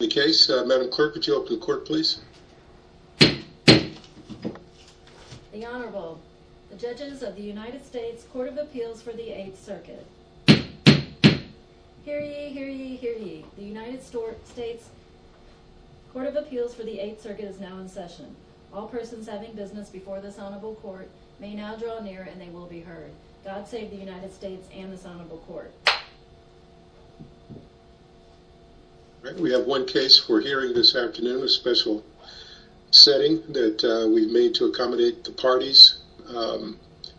The Honorable, the judges of the United States Court of Appeals for the 8th Circuit. Hear ye, hear ye, hear ye. The United States Court of Appeals for the 8th Circuit is now in session. All persons having business before this Honorable Court may now draw near and they will be heard. God save the United States and this Honorable Court. We have one case for hearing this afternoon, a special setting that we've made to accommodate the parties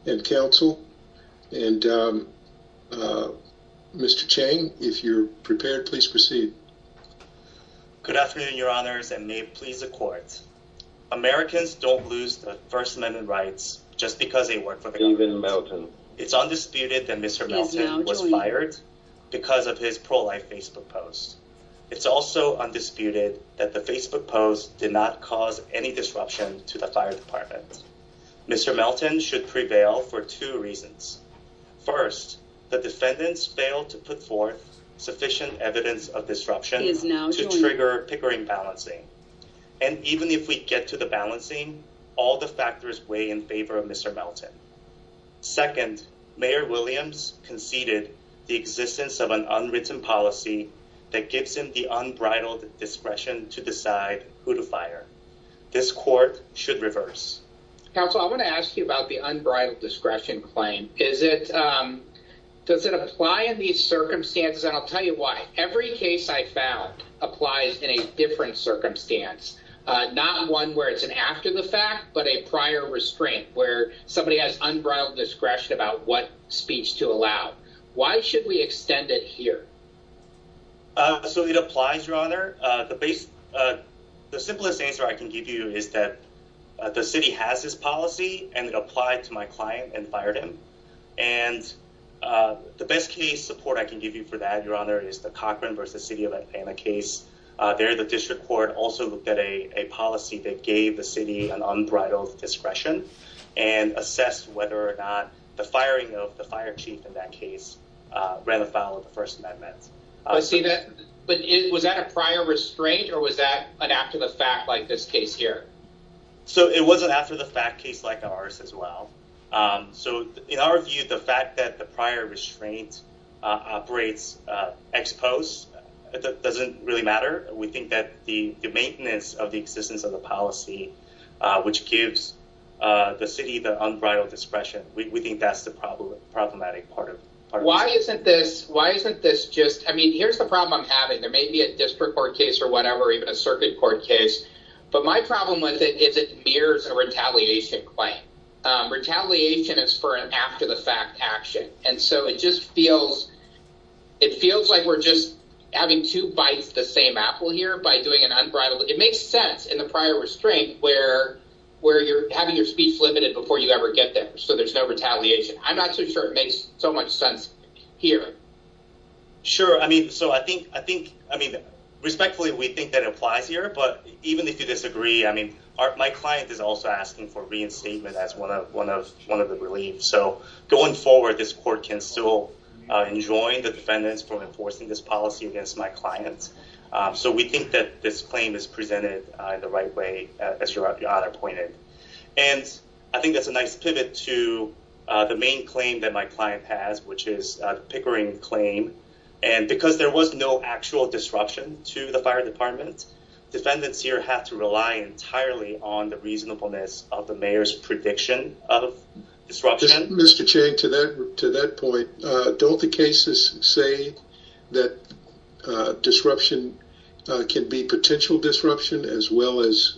and counsel. And Mr. Chang, if you're prepared, please proceed. Good afternoon, Your Honors, and may it please the Court. Americans don't lose their First Amendment rights just because they work for the government. It's undisputed that Mr. Melton was fired because of his pro-life Facebook post. It's also undisputed that the Facebook post did not cause any disruption to the fire department. Mr. Melton should prevail for two reasons. First, the defendants failed to put forth sufficient evidence of disruption to trigger Pickering balancing. And even if we get to the balancing, all the factors weigh in favor of Mr. Melton. Second, Mayor Williams conceded the existence of an unwritten policy that gives him the unbridled discretion to decide who to fire. This court should reverse. Counsel, I want to ask you about the unbridled discretion claim. Is it does it apply in these circumstances? And I'll tell you why. Every case I found applies in a different circumstance. Not one where it's an after the fact, but a prior restraint where somebody has unbridled discretion about what speech to allow. Why should we extend it here? So it applies. Your Honor, the base. The simplest answer I can give you is that the city has this policy and it applied to my client and fired him. And the best case support I can give you for that, Your Honor, is the Cochran versus city of Atlanta case. There, the district court also looked at a policy that gave the city an unbridled discretion and assessed whether or not the firing of the fire chief in that case ran afoul of the First Amendment. I see that. But was that a prior restraint or was that an after the fact like this case here? So it wasn't after the fact case like ours as well. So in our view, the fact that the prior restraint operates exposed doesn't really matter. We think that the maintenance of the existence of the policy, which gives the city the unbridled discretion. We think that's the problem. Problematic part of why isn't this? Why isn't this just I mean, here's the problem I'm having. There may be a district court case or whatever, even a circuit court case. But my problem with it is it mirrors a retaliation claim. Retaliation is for an after the fact action. And so it just feels it feels like we're just having two bites the same apple here by doing an unbridled. It makes sense in the prior restraint where where you're having your speech limited before you ever get there. So there's no retaliation. I'm not so sure it makes so much sense here. Sure. I mean, so I think I think I mean, respectfully, we think that applies here. But even if you disagree, I mean, my client is also asking for reinstatement as one of one of one of the relief. So going forward, this court can still enjoy the defendants from enforcing this policy against my clients. So we think that this claim is presented the right way. And I think that's a nice pivot to the main claim that my client has, which is Pickering claim. And because there was no actual disruption to the fire department, defendants here have to rely entirely on the reasonableness of the mayor's prediction of disruption. Mr. Chang, to that to that point, don't the cases say that disruption can be potential disruption as well as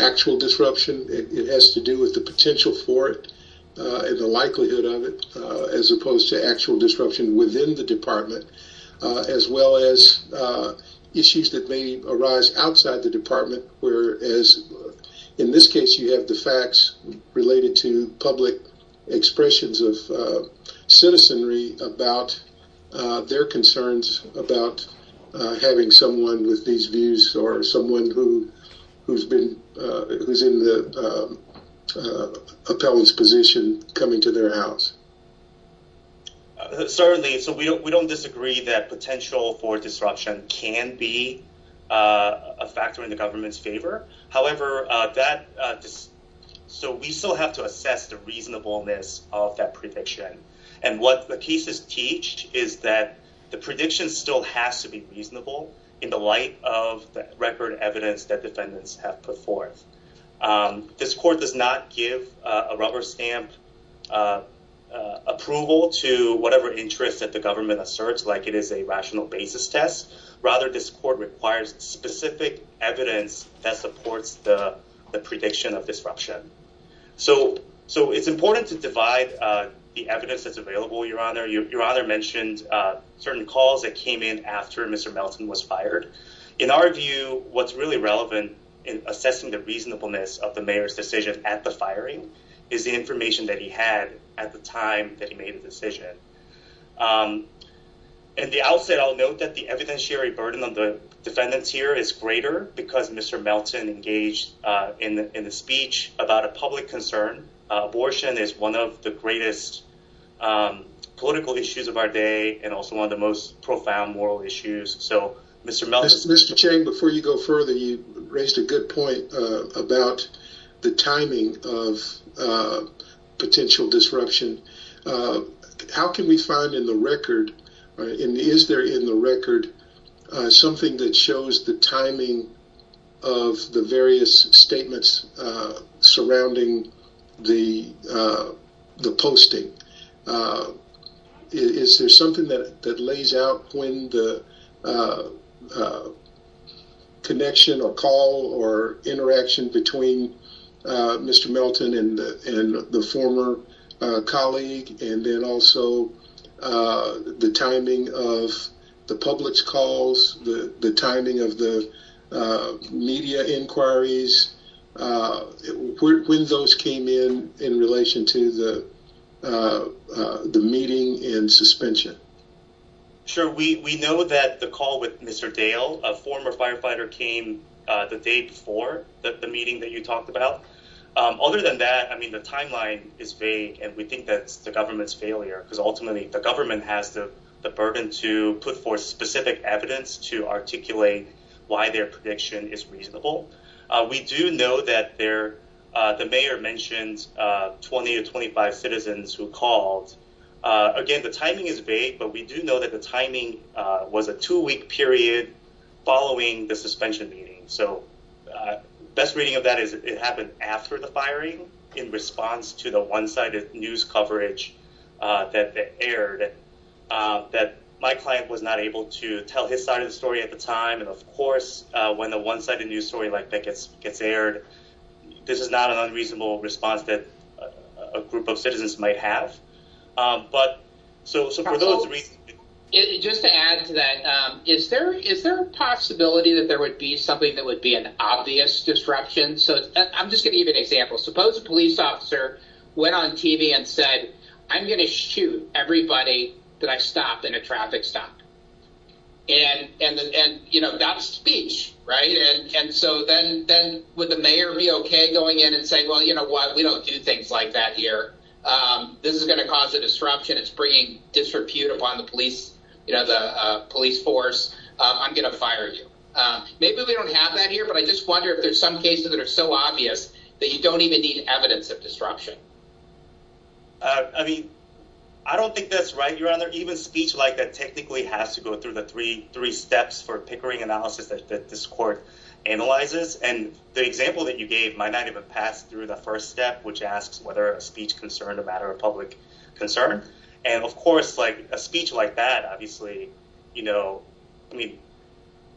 actual disruption? It has to do with the potential for it and the likelihood of it as opposed to actual disruption within the department, as well as issues that may arise outside the department, where, as in this case, you have the facts related to public expressions of citizenry about their concerns about having someone with these views or someone who who's been who's in the appellant's position coming to their house. Certainly, so we don't disagree that potential for disruption can be a factor in the government's favor. However, that is so we still have to assess the reasonableness of that prediction. And what the cases teach is that the prediction still has to be reasonable in the light of the record evidence that defendants have put forth. This court does not give a rubber stamp approval to whatever interest that the government asserts, like it is a rational basis test. Rather, this court requires specific evidence that supports the prediction of disruption. So so it's important to divide the evidence that's available. Your honor, your honor mentioned certain calls that came in after Mr. Melton was fired. In our view, what's really relevant in assessing the reasonableness of the mayor's decision at the firing is the information that he had at the time that he made a decision. And the outset, I'll note that the evidentiary burden on the defendants here is greater because Mr. Melton engaged in the speech about a public concern. Abortion is one of the greatest political issues of our day and also one of the most profound moral issues. So, Mr. Melton, Mr. Chang, before you go further, you raised a good point about the timing of potential disruption. How can we find in the record? Is there in the record something that shows the timing of the various statements surrounding the the posting? Is there something that that lays out when the connection or call or interaction between Mr. Mr. Melton and the former colleague and then also the timing of the public's calls, the timing of the media inquiries when those came in in relation to the meeting in suspension. Sure, we know that the call with Mr. Dale, a former firefighter, came the day before the meeting that you talked about. Other than that, I mean, the timeline is vague and we think that's the government's failure because ultimately the government has the burden to put forth specific evidence to articulate why their prediction is reasonable. We do know that there the mayor mentioned 20 or 25 citizens who called. Again, the timing is vague, but we do know that the timing was a two week period following the suspension meeting. So best reading of that is it happened after the firing in response to the one sided news coverage that aired that my client was not able to tell his side of the story at the time. And of course, when the one sided news story like that gets gets aired, this is not an unreasonable response that a group of citizens might have. But so so for those reasons, just to add to that, is there is there a possibility that there would be something that would be an obvious disruption? So I'm just going to give an example. Suppose a police officer went on TV and said, I'm going to shoot everybody that I stopped in a traffic stop. And and and, you know, that's speech. Right. And so then then would the mayor be OK going in and saying, well, you know what, we don't do things like that here. This is going to cause a disruption. It's bringing disrepute upon the police, the police force. I'm going to fire you. Maybe we don't have that here, but I just wonder if there's some cases that are so obvious that you don't even need evidence of disruption. I mean, I don't think that's right. You're on there. Even speech like that technically has to go through the three three steps for Pickering analysis that this court analyzes. And the example that you gave might not even pass through the first step, which asks whether a speech concerned a matter of public concern. And of course, like a speech like that, obviously, you know, I mean,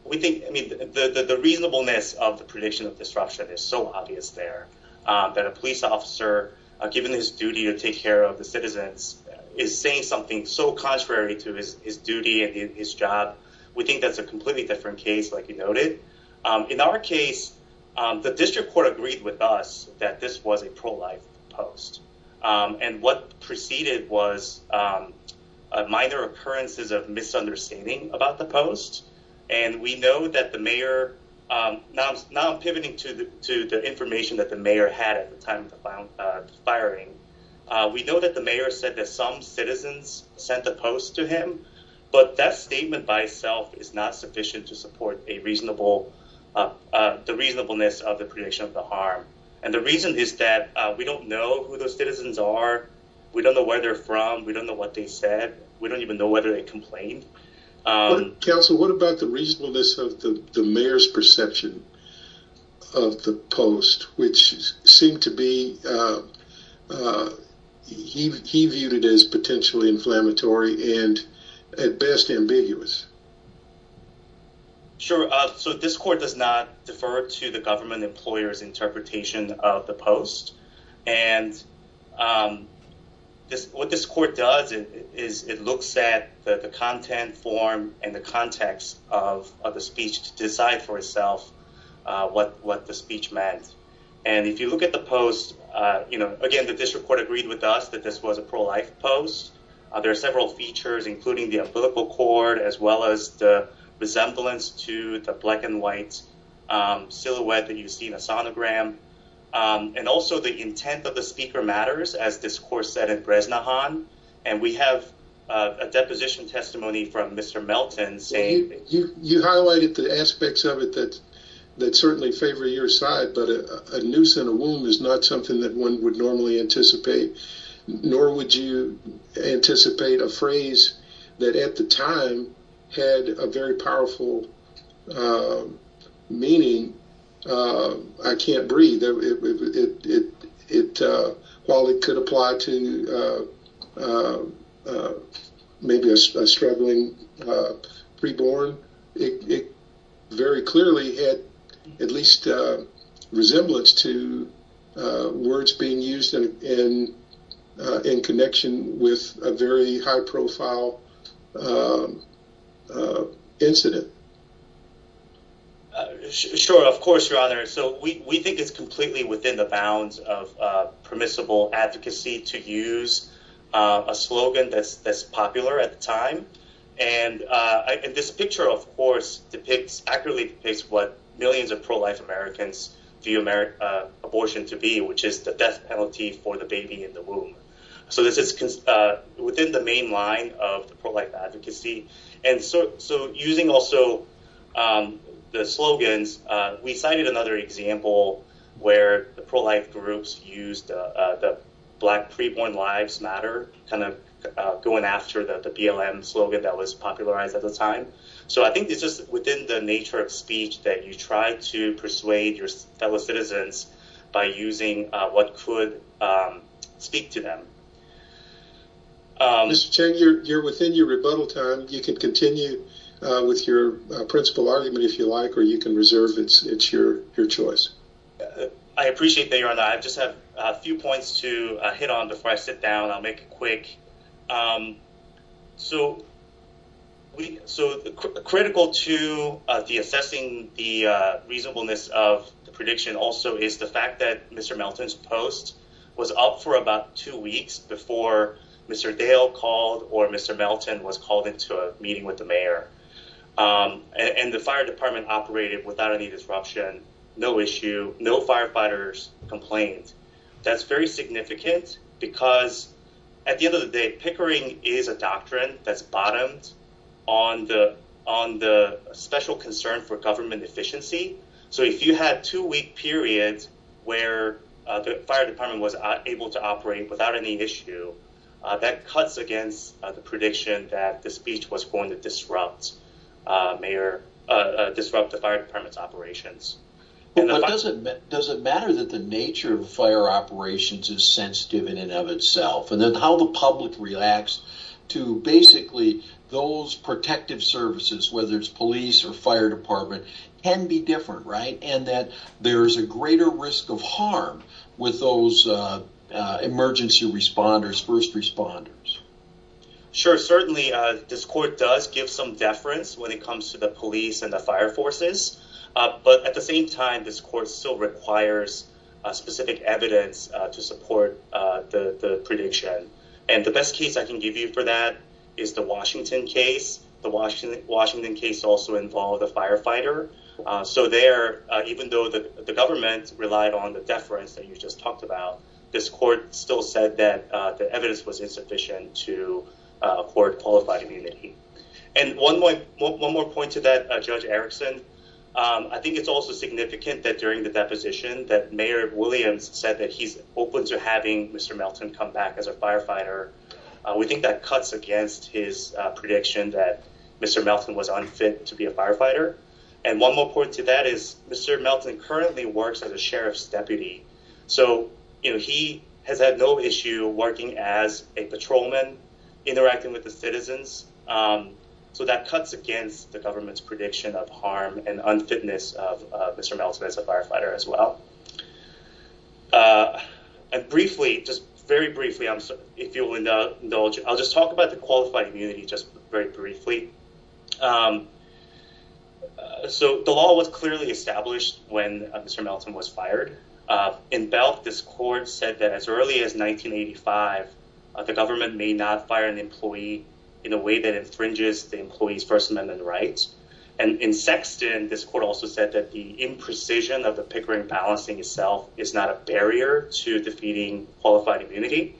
we think I mean, the reasonableness of the prediction of disruption is so obvious there that a police officer given his duty to take care of the citizens is saying something so contrary to his duty and his job. We think that's a completely different case. Like you noted, in our case, the district court agreed with us that this was a pro-life post. And what preceded was minor occurrences of misunderstanding about the post. And we know that the mayor now is now pivoting to the to the information that the mayor had at the time of the firing. We know that the mayor said that some citizens sent the post to him. But that statement by itself is not sufficient to support a reasonable the reasonableness of the prediction of the harm. And the reason is that we don't know who those citizens are. We don't know where they're from. We don't know what they said. We don't even know whether they complained. Counsel, what about the reasonableness of the mayor's perception of the post, which seemed to be. He viewed it as potentially inflammatory and at best ambiguous. Sure. So this court does not defer to the government employers interpretation of the post. And this what this court does is it looks at the content form and the context of the speech to decide for itself what what the speech meant. And if you look at the post, you know, again, the district court agreed with us that this was a pro-life post. There are several features, including the biblical cord, as well as the resemblance to the black and white silhouette that you see in a sonogram. And also the intent of the speaker matters, as this court said in Bresnahan. And we have a deposition testimony from Mr. Melton saying you highlighted the aspects of it that that certainly favor your side. But a noose in a womb is not something that one would normally anticipate, nor would you anticipate a phrase that at the time had a very powerful meaning. I can't breathe. It it while it could apply to maybe a struggling pre-born, it very clearly had at least a resemblance to words being used in in connection with a very high profile incident. Sure, of course, your honor. So we think it's completely within the bounds of permissible advocacy to use a slogan that's that's popular at the time. And this picture, of course, depicts accurately what millions of pro-life Americans view abortion to be, which is the death penalty for the baby in the womb. So this is within the main line of pro-life advocacy. And so so using also the slogans, we cited another example where the pro-life groups used the black pre-born lives matter kind of going after the BLM slogan that was popularized at the time. So I think this is within the nature of speech that you try to persuade your fellow citizens by using what could speak to them. Mr. Chang, you're within your rebuttal time. You can continue with your principal argument, if you like, or you can reserve it. It's your choice. I appreciate that, your honor. I just have a few points to hit on before I sit down. I'll make it quick. So we so critical to the assessing the reasonableness of the prediction also is the fact that Mr. Melton's post was up for about two weeks before Mr. Dale called or Mr. Melton was called into a meeting with the mayor and the fire department operated without any disruption. No issue. No firefighters complained. That's very significant because at the end of the day, Pickering is a doctrine that's bottomed on the on the special concern for government efficiency. So if you had two week periods where the fire department was able to operate without any issue, that cuts against the prediction that the speech was going to disrupt the fire department's operations. But does it does it matter that the nature of fire operations is sensitive in and of itself? And then how the public relax to basically those protective services, whether it's police or fire department, can be different. Right. And that there is a greater risk of harm with those emergency responders, first responders. Sure. Certainly, this court does give some deference when it comes to the police and the fire forces. But at the same time, this court still requires specific evidence to support the prediction. And the best case I can give you for that is the Washington case. The Washington, Washington case also involved a firefighter. So there, even though the government relied on the deference that you just talked about, this court still said that the evidence was insufficient to afford qualified immunity. And one more point to that, Judge Erickson. I think it's also significant that during the deposition that Mayor Williams said that he's open to having Mr. Melton come back as a firefighter. We think that cuts against his prediction that Mr. Melton was unfit to be a firefighter. And one more point to that is Mr. Melton currently works as a sheriff's deputy. So, you know, he has had no issue working as a patrolman, interacting with the citizens. So that cuts against the government's prediction of harm and unfitness of Mr. Melton as a firefighter as well. And briefly, just very briefly. I'll just talk about the qualified immunity just very briefly. So the law was clearly established when Mr. Melton was fired. In Belk, this court said that as early as 1985, the government may not fire an employee in a way that infringes the employee's First Amendment rights. And in Sexton, this court also said that the imprecision of the Pickering balancing itself is not a barrier to defeating qualified immunity.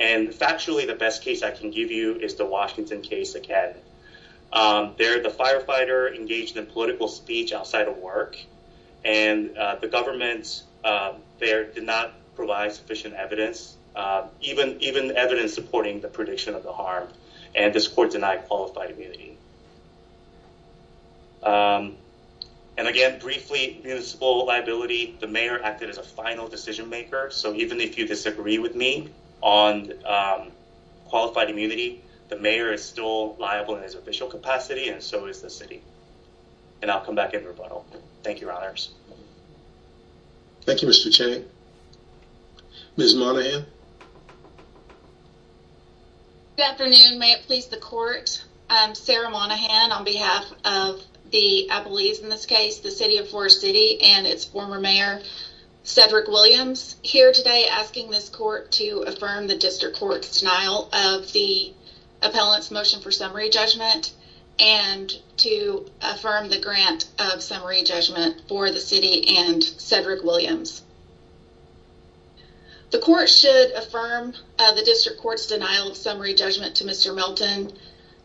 And factually, the best case I can give you is the Washington case. Again, they're the firefighter engaged in political speech outside of work. And the government there did not provide sufficient evidence, even even evidence supporting the prediction of the harm. And this court denied qualified immunity. And again, briefly, municipal liability. The mayor acted as a final decision maker. So even if you disagree with me on qualified immunity, the mayor is still liable in his official capacity and so is the city. And I'll come back in rebuttal. Thank you, Your Honors. Thank you, Mr. Chang. Ms. Monaghan. Good afternoon. May it please the court. I'm Sarah Monaghan on behalf of the, I believe in this case, the city of Forest City and its former mayor, Cedric Williams, here today asking this court to affirm the district court's denial of the appellant's motion for summary judgment and to affirm the grant of summary judgment for the city and Cedric Williams. The court should affirm the district court's denial of summary judgment to Mr. Milton.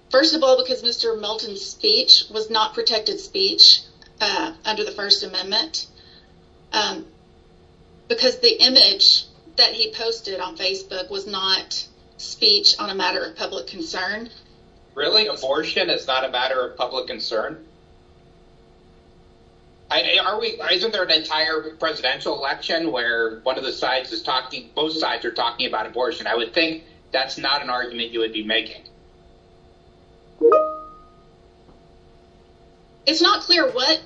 First of all, because Mr. Milton's speech was not protected speech under the First Amendment, because the image that he posted on Facebook was not speech on a matter of public concern. Really? Abortion is not a matter of public concern. Are we isn't there an entire presidential election where one of the sides is talking? Both sides are talking about abortion. I would think that's not an argument you would be making. It's not clear what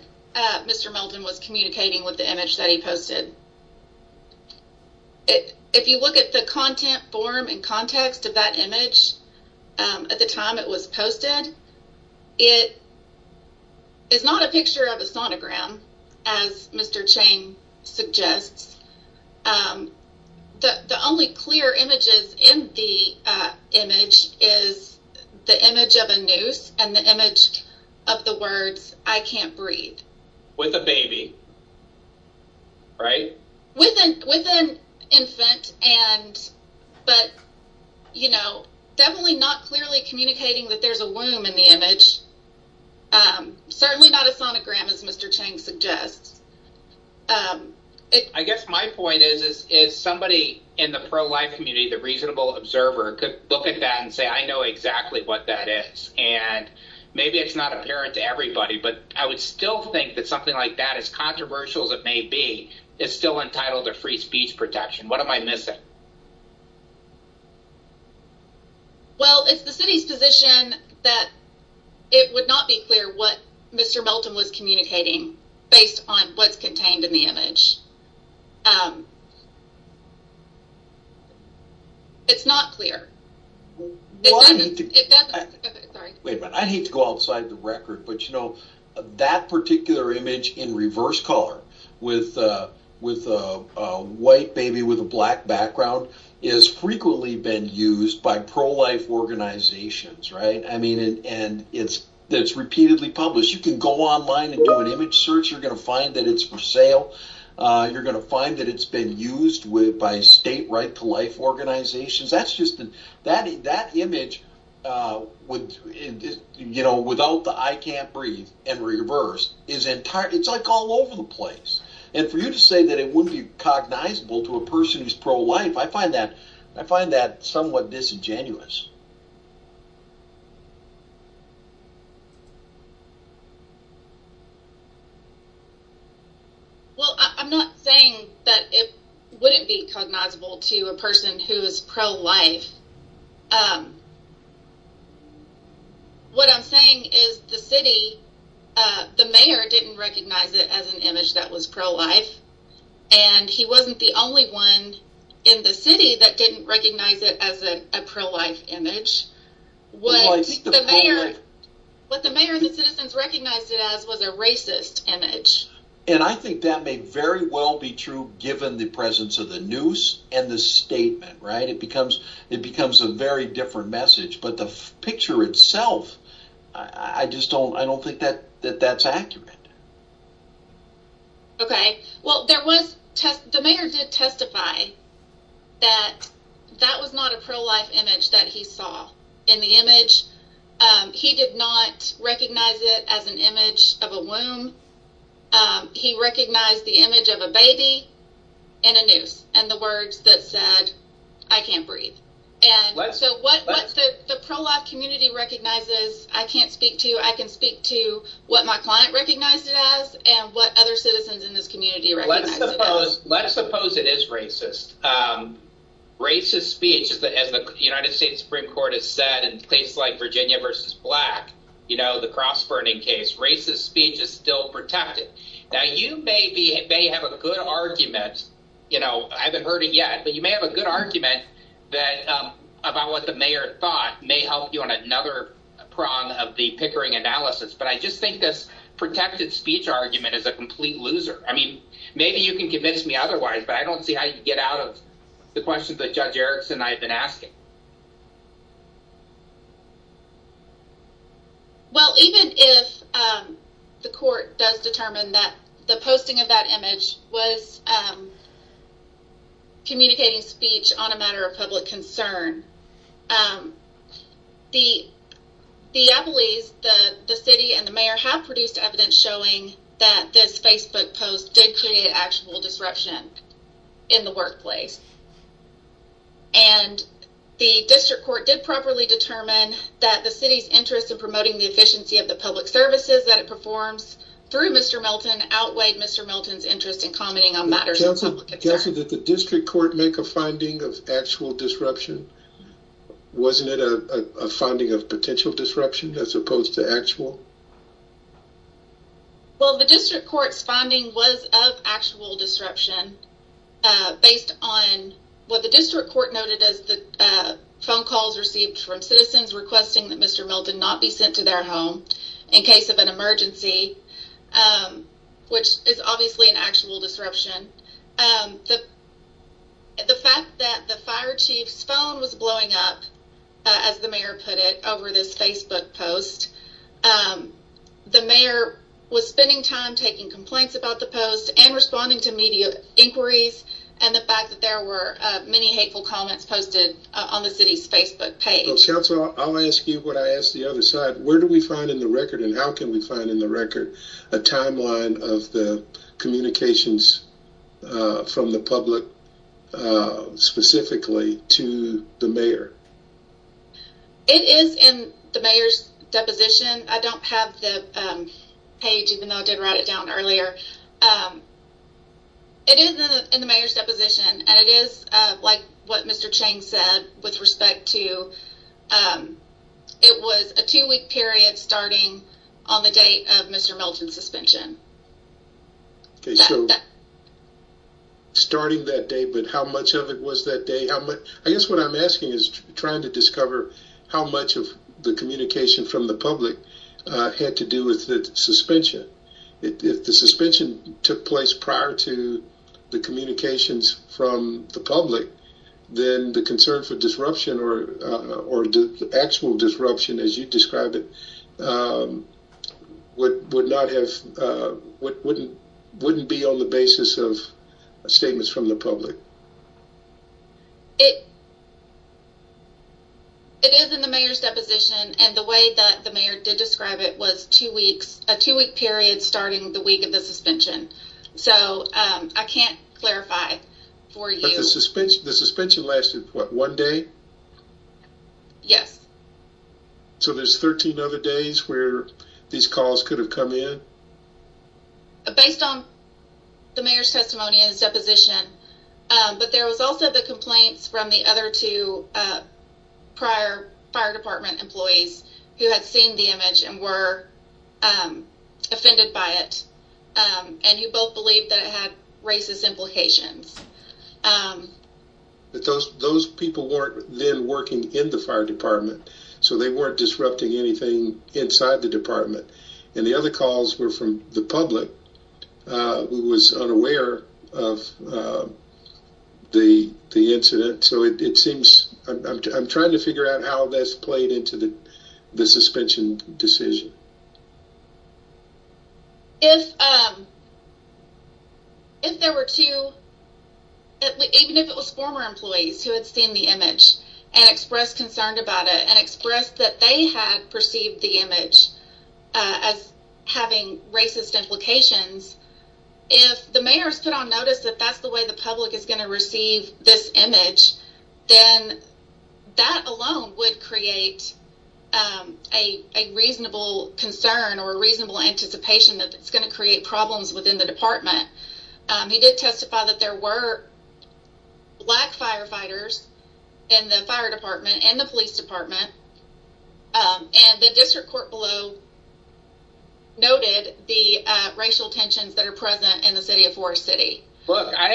Mr. Milton was communicating with the image that he posted. If you look at the content form and context of that image at the time it was posted, it is not a picture of a sonogram, as Mr. Chang suggests. The only clear images in the image is the image of a noose and the image of the words I can't breathe with a baby. Right. With an infant. And but, you know, definitely not clearly communicating that there's a womb in the image. Certainly not a sonogram, as Mr. Chang suggests. I guess my point is, is somebody in the pro-life community, the reasonable observer, could look at that and say, I know exactly what that is and maybe it's not apparent to everybody, but I would still think that something like that, as controversial as it may be, is still entitled to free speech protection. What am I missing? Well, it's the city's position that it would not be clear what Mr. Milton was communicating based on what's contained in the image. It's not clear. Wait a minute. I hate to go outside the record. But you know, that particular image in reverse color with a white baby with a black background is frequently been used by pro-life organizations. Right. I mean, and it's it's repeatedly published. You can go online and do an image search. You're going to find that it's for sale. You're going to find that it's been used by state right to life organizations. That's just that that image would, you know, without the I can't breathe and reverse is entire. It's like all over the place. And for you to say that it would be cognizable to a person who's pro-life. I find that I find that somewhat disingenuous. Well, I'm not saying that it wouldn't be cognizable to a person who is pro-life. What I'm saying is the city, the mayor didn't recognize it as an image that was pro-life. And he wasn't the only one in the city that didn't recognize it as a pro-life image. What the mayor, the citizens recognized it as was a racist image. And I think that may very well be true, given the presence of the news and the statement. Right. It becomes it becomes a very different message. But the picture itself, I just don't I don't think that that that's accurate. OK, well, there was the mayor did testify that that was not a pro-life image that he saw in the image. He did not recognize it as an image of a womb. He recognized the image of a baby and a noose and the words that said, I can't breathe. And so what the pro-life community recognizes, I can't speak to. I can speak to what my client recognized it as and what other citizens in this community. Let's suppose let's suppose it is racist, racist speech, as the United States Supreme Court has said, and places like Virginia versus black, you know, the cross burning case, racist speech is still protected. Now, you may be may have a good argument. You know, I haven't heard it yet, but you may have a good argument that about what the mayor thought may help you on another prong of the Pickering analysis. But I just think this protected speech argument is a complete loser. I mean, maybe you can convince me otherwise, but I don't see how you get out of the questions that Judge Erickson I've been asking. Well, even if the court does determine that the posting of that image was. Communicating speech on a matter of public concern. The city and the mayor have produced evidence showing that this Facebook post did create actual disruption in the workplace. And the district court did properly determine that the city's interest in promoting the efficiency of the public services that it performs through Mr. Milton outweighed Mr. Milton's interest in commenting on matters of public interest. Did the district court make a finding of actual disruption? Wasn't it a finding of potential disruption as opposed to actual? Well, the district court's finding was of actual disruption based on what the district court noted as the phone calls received from citizens requesting that Mr. Milton not be sent to their home in case of an emergency, which is obviously an actual disruption. The fact that the fire chief's phone was blowing up, as the mayor put it over this Facebook post. The mayor was spending time taking complaints about the post and responding to media inquiries. And the fact that there were many hateful comments posted on the city's Facebook page. I'll ask you what I asked the other side. Where do we find in the record and how can we find in the record a timeline of the communications from the public specifically to the mayor? It is in the mayor's deposition. I don't have the page, even though I did write it down earlier. It is in the mayor's deposition and it is like what Mr. Chang said with respect to it was a two week period starting on the date of Mr. Milton's suspension. Starting that day, but how much of it was that day? I guess what I'm asking is trying to discover how much of the communication from the public had to do with the suspension. If the suspension took place prior to the communications from the public, then the concern for disruption or the actual disruption, as you describe it, would not have, wouldn't be on the basis of statements from the public. It is in the mayor's deposition and the way that the mayor did describe it was two weeks, a two week period starting the week of the suspension. So I can't clarify for you. The suspension lasted what, one day? Yes. So there's 13 other days where these calls could have come in? Based on the mayor's testimony and his deposition, but there was also the complaints from the other two prior fire department employees who had seen the image and were offended by it. And you both believe that it had racist implications. But those people weren't then working in the fire department, so they weren't disrupting anything inside the department. And the other calls were from the public, who was unaware of the incident. So it seems, I'm trying to figure out how that's played into the suspension decision. If there were two, even if it was former employees who had seen the image and expressed concern about it and expressed that they had perceived the image as having racist implications, if the mayor has put on notice that that's the way the public is going to receive this image, then that alone would create a reasonable concern or a reasonable anticipation that it's going to create problems within the department. He did testify that there were black firefighters in the fire department and the police department. And the district court below noted the racial tensions that are present in the city of Forest City. Look, I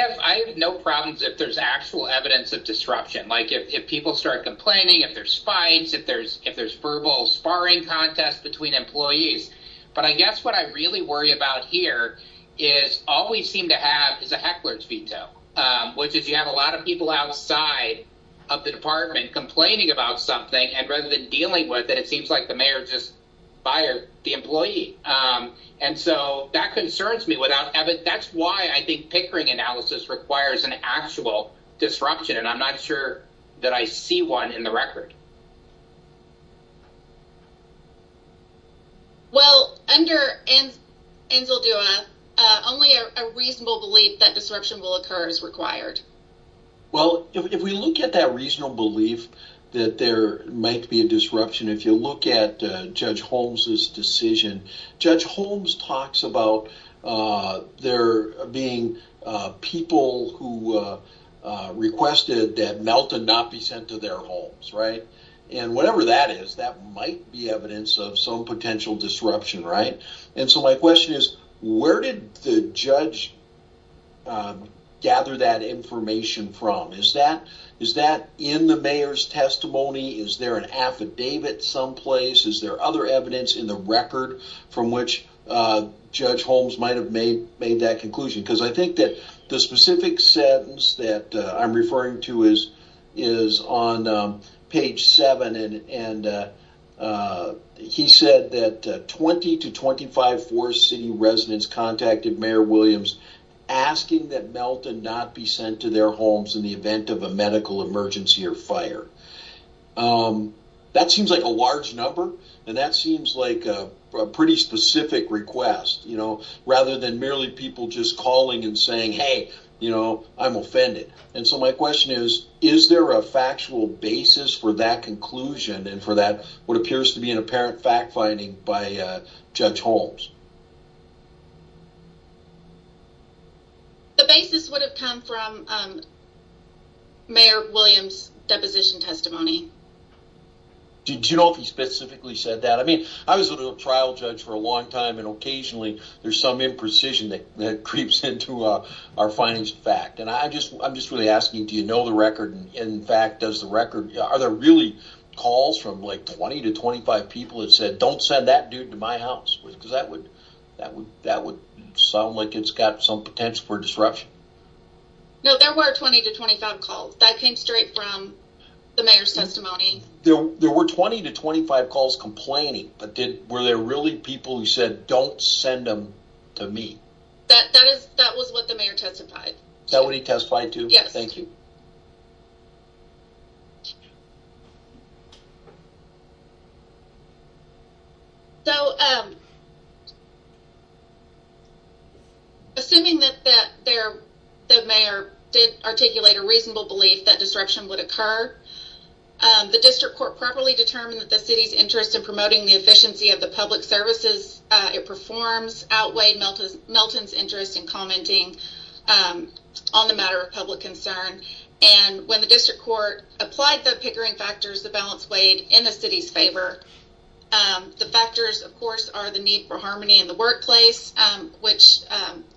have no problems if there's actual evidence of disruption, like if people start complaining, if there's fights, if there's verbal sparring contests between employees. But I guess what I really worry about here is all we seem to have is a heckler's veto, which is you have a lot of people outside of the department complaining about something. And rather than dealing with it, it seems like the mayor just fired the employee. And so that concerns me. That's why I think pickering analysis requires an actual disruption. And I'm not sure that I see one in the record. Well, under Enzaldua, only a reasonable belief that disruption will occur is required. Well, if we look at that reasonable belief that there might be a disruption, if you look at Judge Holmes's decision, Judge Holmes talks about there being people who requested that Melton not be sent to their homes, right? And whatever that is, that might be evidence of some potential disruption, right? And so my question is, where did the judge gather that information from? Is that in the mayor's testimony? Is there an affidavit someplace? Is there other evidence in the record from which Judge Holmes might have made that conclusion? Because I think that the specific sentence that I'm referring to is on page 7. And he said that 20 to 25 Forest City residents contacted Mayor Williams asking that Melton not be sent to their homes in the event of a medical emergency or fire. That seems like a large number. And that seems like a pretty specific request, you know, rather than merely people just calling and saying, hey, you know, I'm offended. And so my question is, is there a factual basis for that conclusion and for that what appears to be an apparent fact finding by Judge Holmes? The basis would have come from Mayor Williams' deposition testimony. Did you know if he specifically said that? I mean, I was a trial judge for a long time, and occasionally there's some imprecision that creeps into our findings of fact. And I'm just really asking, do you know the record? And in fact, does the record, are there really calls from like 20 to 25 people that said, don't send that dude to my house? Because that would sound like it's got some potential for disruption. No, there were 20 to 25 calls. That came straight from the mayor's testimony. There were 20 to 25 calls complaining, but were there really people who said, don't send him to me? That was what the mayor testified. That what he testified to? Yes. Thank you. Thank you. So, assuming that the mayor did articulate a reasonable belief that disruption would occur, the district court properly determined that the city's interest in promoting the efficiency of the public services it performs outweighed Milton's interest in commenting on the matter of public concern. And when the district court applied the Pickering factors, the balance weighed in the city's favor. The factors, of course, are the need for harmony in the workplace, which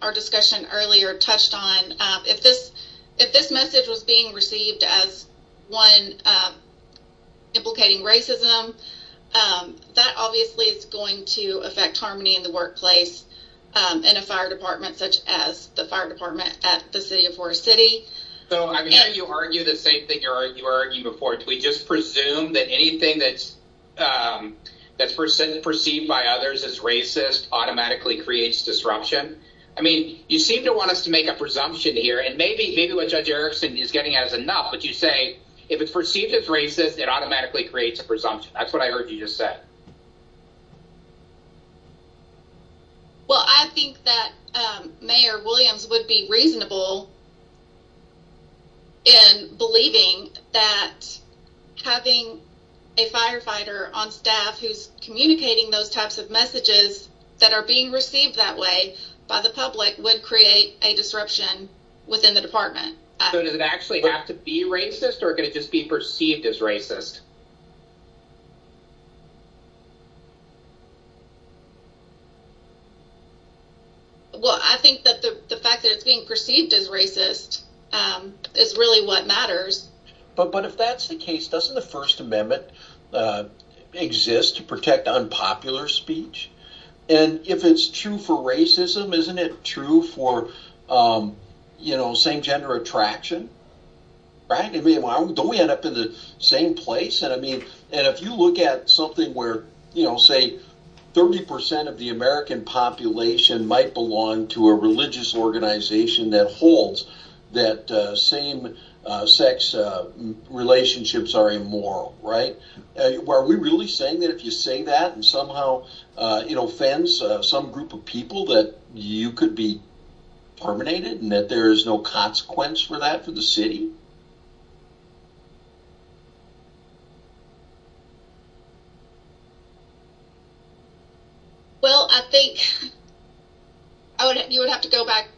our discussion earlier touched on. If this message was being received as one implicating racism, that obviously is going to affect harmony in the workplace in a fire department, such as the fire department at the city of Forest City. So, I'm hearing you argue the same thing you were arguing before. Do we just presume that anything that's perceived by others as racist automatically creates disruption? I mean, you seem to want us to make a presumption here, and maybe what Judge Erickson is getting at is enough, but you say if it's perceived as racist, it automatically creates a presumption. That's what I heard you just say. Well, I think that Mayor Williams would be reasonable in believing that having a firefighter on staff who's communicating those types of messages that are being received that way by the public would create a disruption within the department. So, does it actually have to be racist, or can it just be perceived as racist? Well, I think that the fact that it's being perceived as racist is really what matters. But if that's the case, doesn't the First Amendment exist to protect unpopular speech? And if it's true for racism, isn't it true for same-gender attraction? Don't we end up in the same place? And if you look at something where, say, 30% of the American population might belong to a religious organization that holds that same-sex relationships are immoral, are we really saying that if you say that and somehow fence some group of people that you could be terminated and that there's no consequence for that for the city? Well, I think you would have to go back.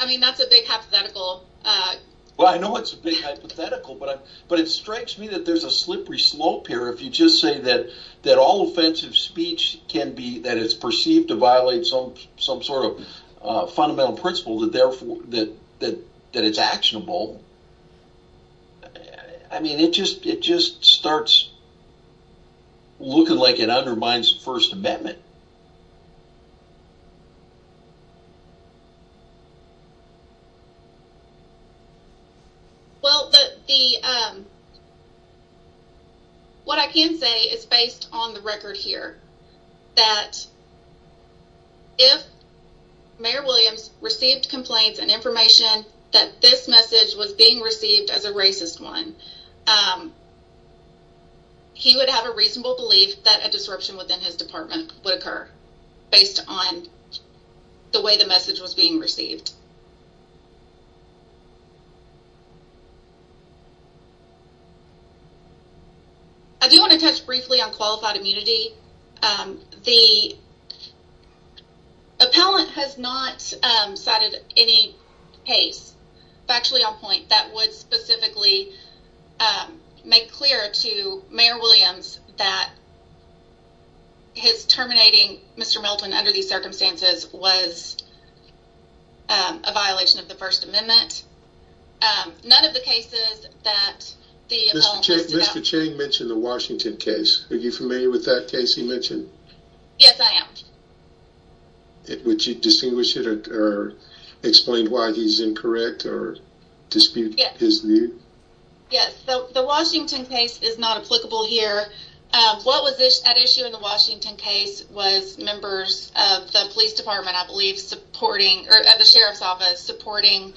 I mean, that's a big hypothetical. Well, I know it's a big hypothetical, but it strikes me that there's a slippery slope here. If you just say that all offensive speech, that it's perceived to violate some sort of fundamental principle, that it's actionable, I mean, it just starts looking like it undermines the First Amendment. Well, what I can say is based on the record here that if Mayor Williams received complaints and information that this message was being received as a racist one, he would have a reasonable belief that a disruption within his department would occur based on the way the message was being received. I do want to touch briefly on qualified immunity. The appellant has not cited any case factually on point that would specifically make clear to Mayor Williams that his terminating Mr. Milton under these circumstances was a violation of the First Amendment. Mr. Chang mentioned the Washington case. Are you familiar with that case he mentioned? Yes, I am. Would you distinguish it or explain why he's incorrect or dispute his view? Yes. The Washington case is not applicable here. What was at issue in the Washington case was members of the sheriff's office supporting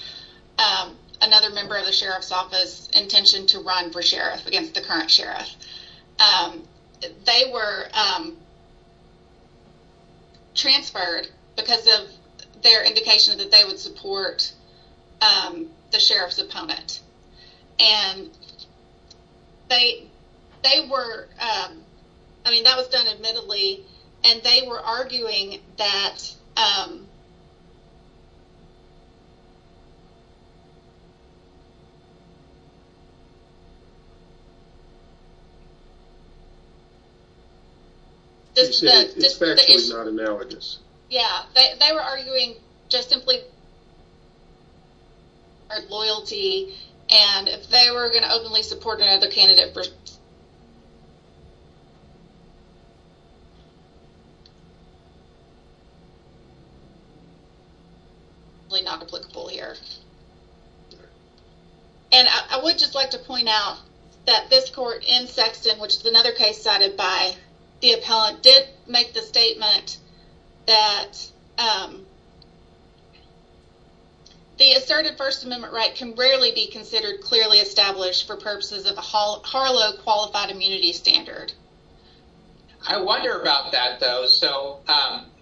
another member of the sheriff's office's intention to run for sheriff against the current sheriff. They were transferred because of their indication that they would support the sheriff's opponent. That was done admittedly and they were arguing that It's factually not analogous. They were arguing just simply because of their loyalty and if they were going to openly support another candidate, it's factually not applicable here. I would just like to point out that this court in Sexton, which is another case cited by the appellant, did make the statement that the asserted First Amendment right can rarely be considered clearly established for purposes of the Harlow Qualified Immunity Standard. I wonder about that, though. So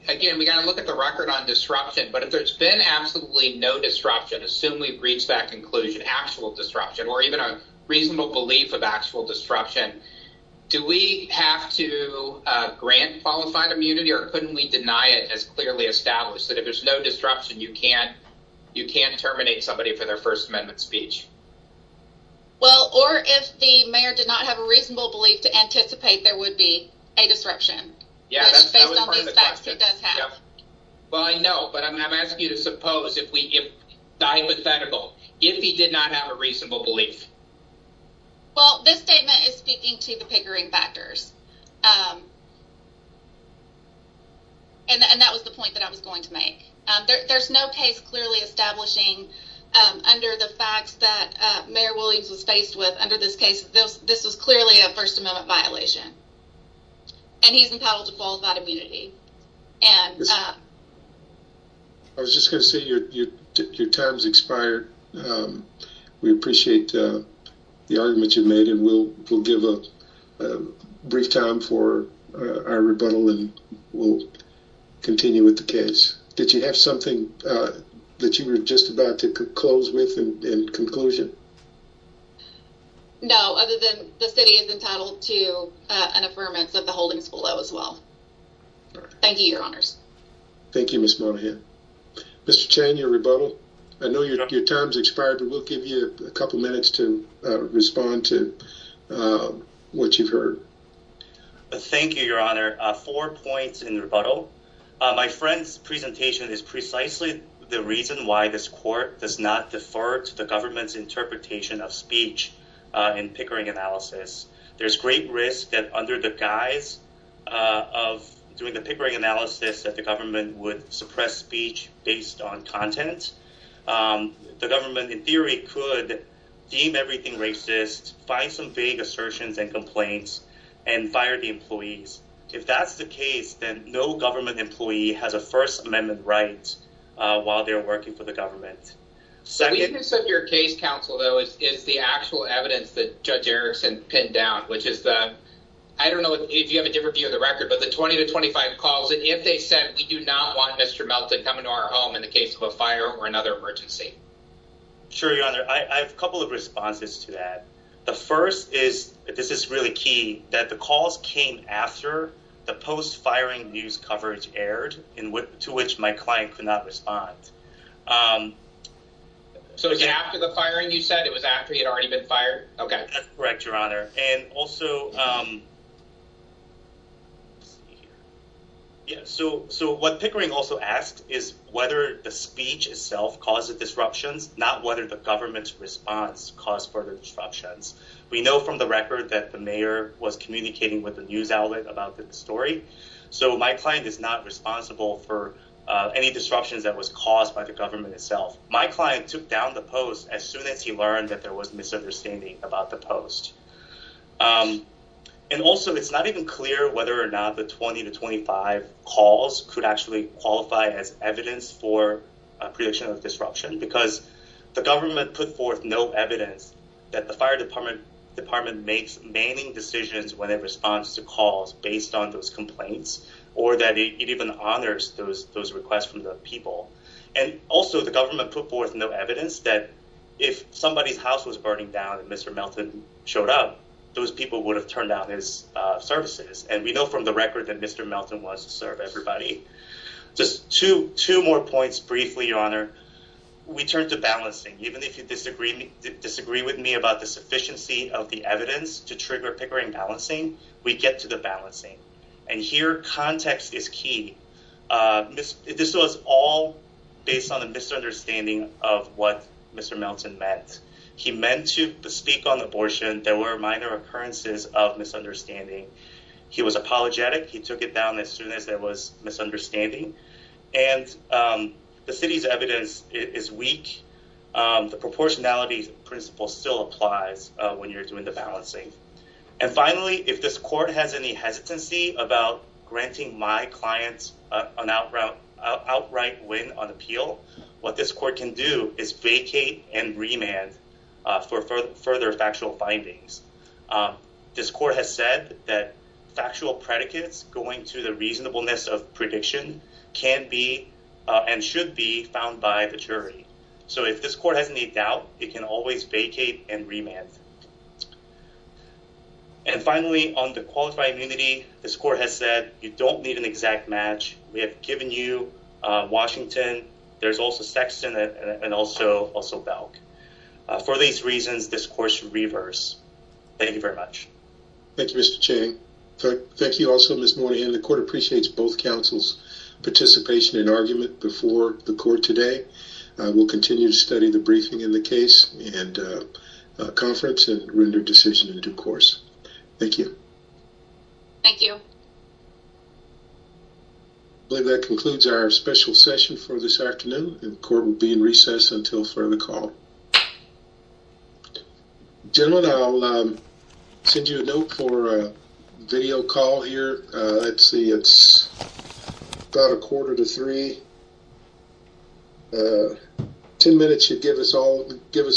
again, we got to look at the record on disruption, but if there's been absolutely no disruption, assume we've reached that conclusion, actual disruption or even a reasonable belief of actual disruption. Do we have to grant qualified immunity or couldn't we deny it as clearly established that if there's no disruption, you can't you can't terminate somebody for their First Amendment speech? Well, or if the mayor did not have a reasonable belief to anticipate, there would be a disruption. Well, I know, but I'm asking you to suppose if we if the hypothetical if he did not have a reasonable belief. Well, this statement is speaking to the pickering factors. And that was the point that I was going to make. There's no case clearly establishing under the facts that Mayor Williams was faced with under this case. This is clearly a First Amendment violation. And he's entitled to qualified immunity. I was just going to say your time's expired. We appreciate the argument you made. And we'll give a brief time for our rebuttal and we'll continue with the case. Did you have something that you were just about to close with in conclusion? No, other than the city is entitled to an affirmance of the holdings below as well. Thank you, Your Honors. Thank you, Miss Monahan. Mr. Chang, your rebuttal. I know your time's expired, but we'll give you a couple minutes to respond to what you've heard. Thank you, Your Honor. Four points in rebuttal. My friend's presentation is precisely the reason why this court does not defer to the government's interpretation of speech in pickering analysis. There's great risk that under the guise of doing the pickering analysis that the government would suppress speech based on content. The government, in theory, could deem everything racist, find some vague assertions and complaints, and fire the employees. If that's the case, then no government employee has a First Amendment right while they're working for the government. The weakness of your case, counsel, though, is the actual evidence that Judge Erickson pinned down, which is the, I don't know if you have a different view of the record, but the 20 to 25 calls. And if they said, we do not want Mr. Melton coming to our home in the case of a fire or another emergency. Sure, Your Honor. I have a couple of responses to that. The first is, this is really key, that the calls came after the post-firing news coverage aired, to which my client could not respond. So it's after the firing, you said? It was after he had already been fired? Okay. That's correct, Your Honor. And also, what Pickering also asked is whether the speech itself caused the disruptions, not whether the government's response caused further disruptions. We know from the record that the mayor was communicating with the news outlet about the story. So my client is not responsible for any disruptions that was caused by the government itself. My client took down the post as soon as he learned that there was misunderstanding about the post. And also, it's not even clear whether or not the 20 to 25 calls could actually qualify as evidence for a prediction of disruption, because the government put forth no evidence that the fire department makes manning decisions when it responds to calls based on those complaints, or that it even honors those requests from the people. And also, the government put forth no evidence that if somebody's house was burning down and Mr. Melton showed up, those people would have turned down his services. And we know from the record that Mr. Melton wants to serve everybody. Just two more points briefly, Your Honor. We turn to balancing. Even if you disagree with me about the sufficiency of the evidence to trigger Pickering balancing, we get to the balancing. And here, context is key. This was all based on a misunderstanding of what Mr. Melton meant. He meant to speak on abortion. There were minor occurrences of misunderstanding. He was apologetic. He took it down as soon as there was misunderstanding. And the city's evidence is weak. The proportionality principle still applies when you're doing the balancing. And finally, if this court has any hesitancy about granting my clients an outright win on appeal, what this court can do is vacate and remand for further factual findings. This court has said that factual predicates going to the reasonableness of prediction can be and should be found by the jury. So if this court has any doubt, it can always vacate and remand. And finally, on the qualified immunity, this court has said you don't need an exact match. We have given you Washington. There's also Sexton and also Belk. For these reasons, this course reverse. Thank you very much. Thank you, Mr. Chang. Thank you also, Ms. Moynihan. The court appreciates both counsel's participation in argument before the court today. We'll continue to study the briefing in the case and conference and render decision in due course. Thank you. Thank you. I believe that concludes our special session for this afternoon. The court will be in recess until further call. Gentlemen, I'll send you a note for a video call here. Let's see. It's about a quarter to three. Ten minutes should give us all give us.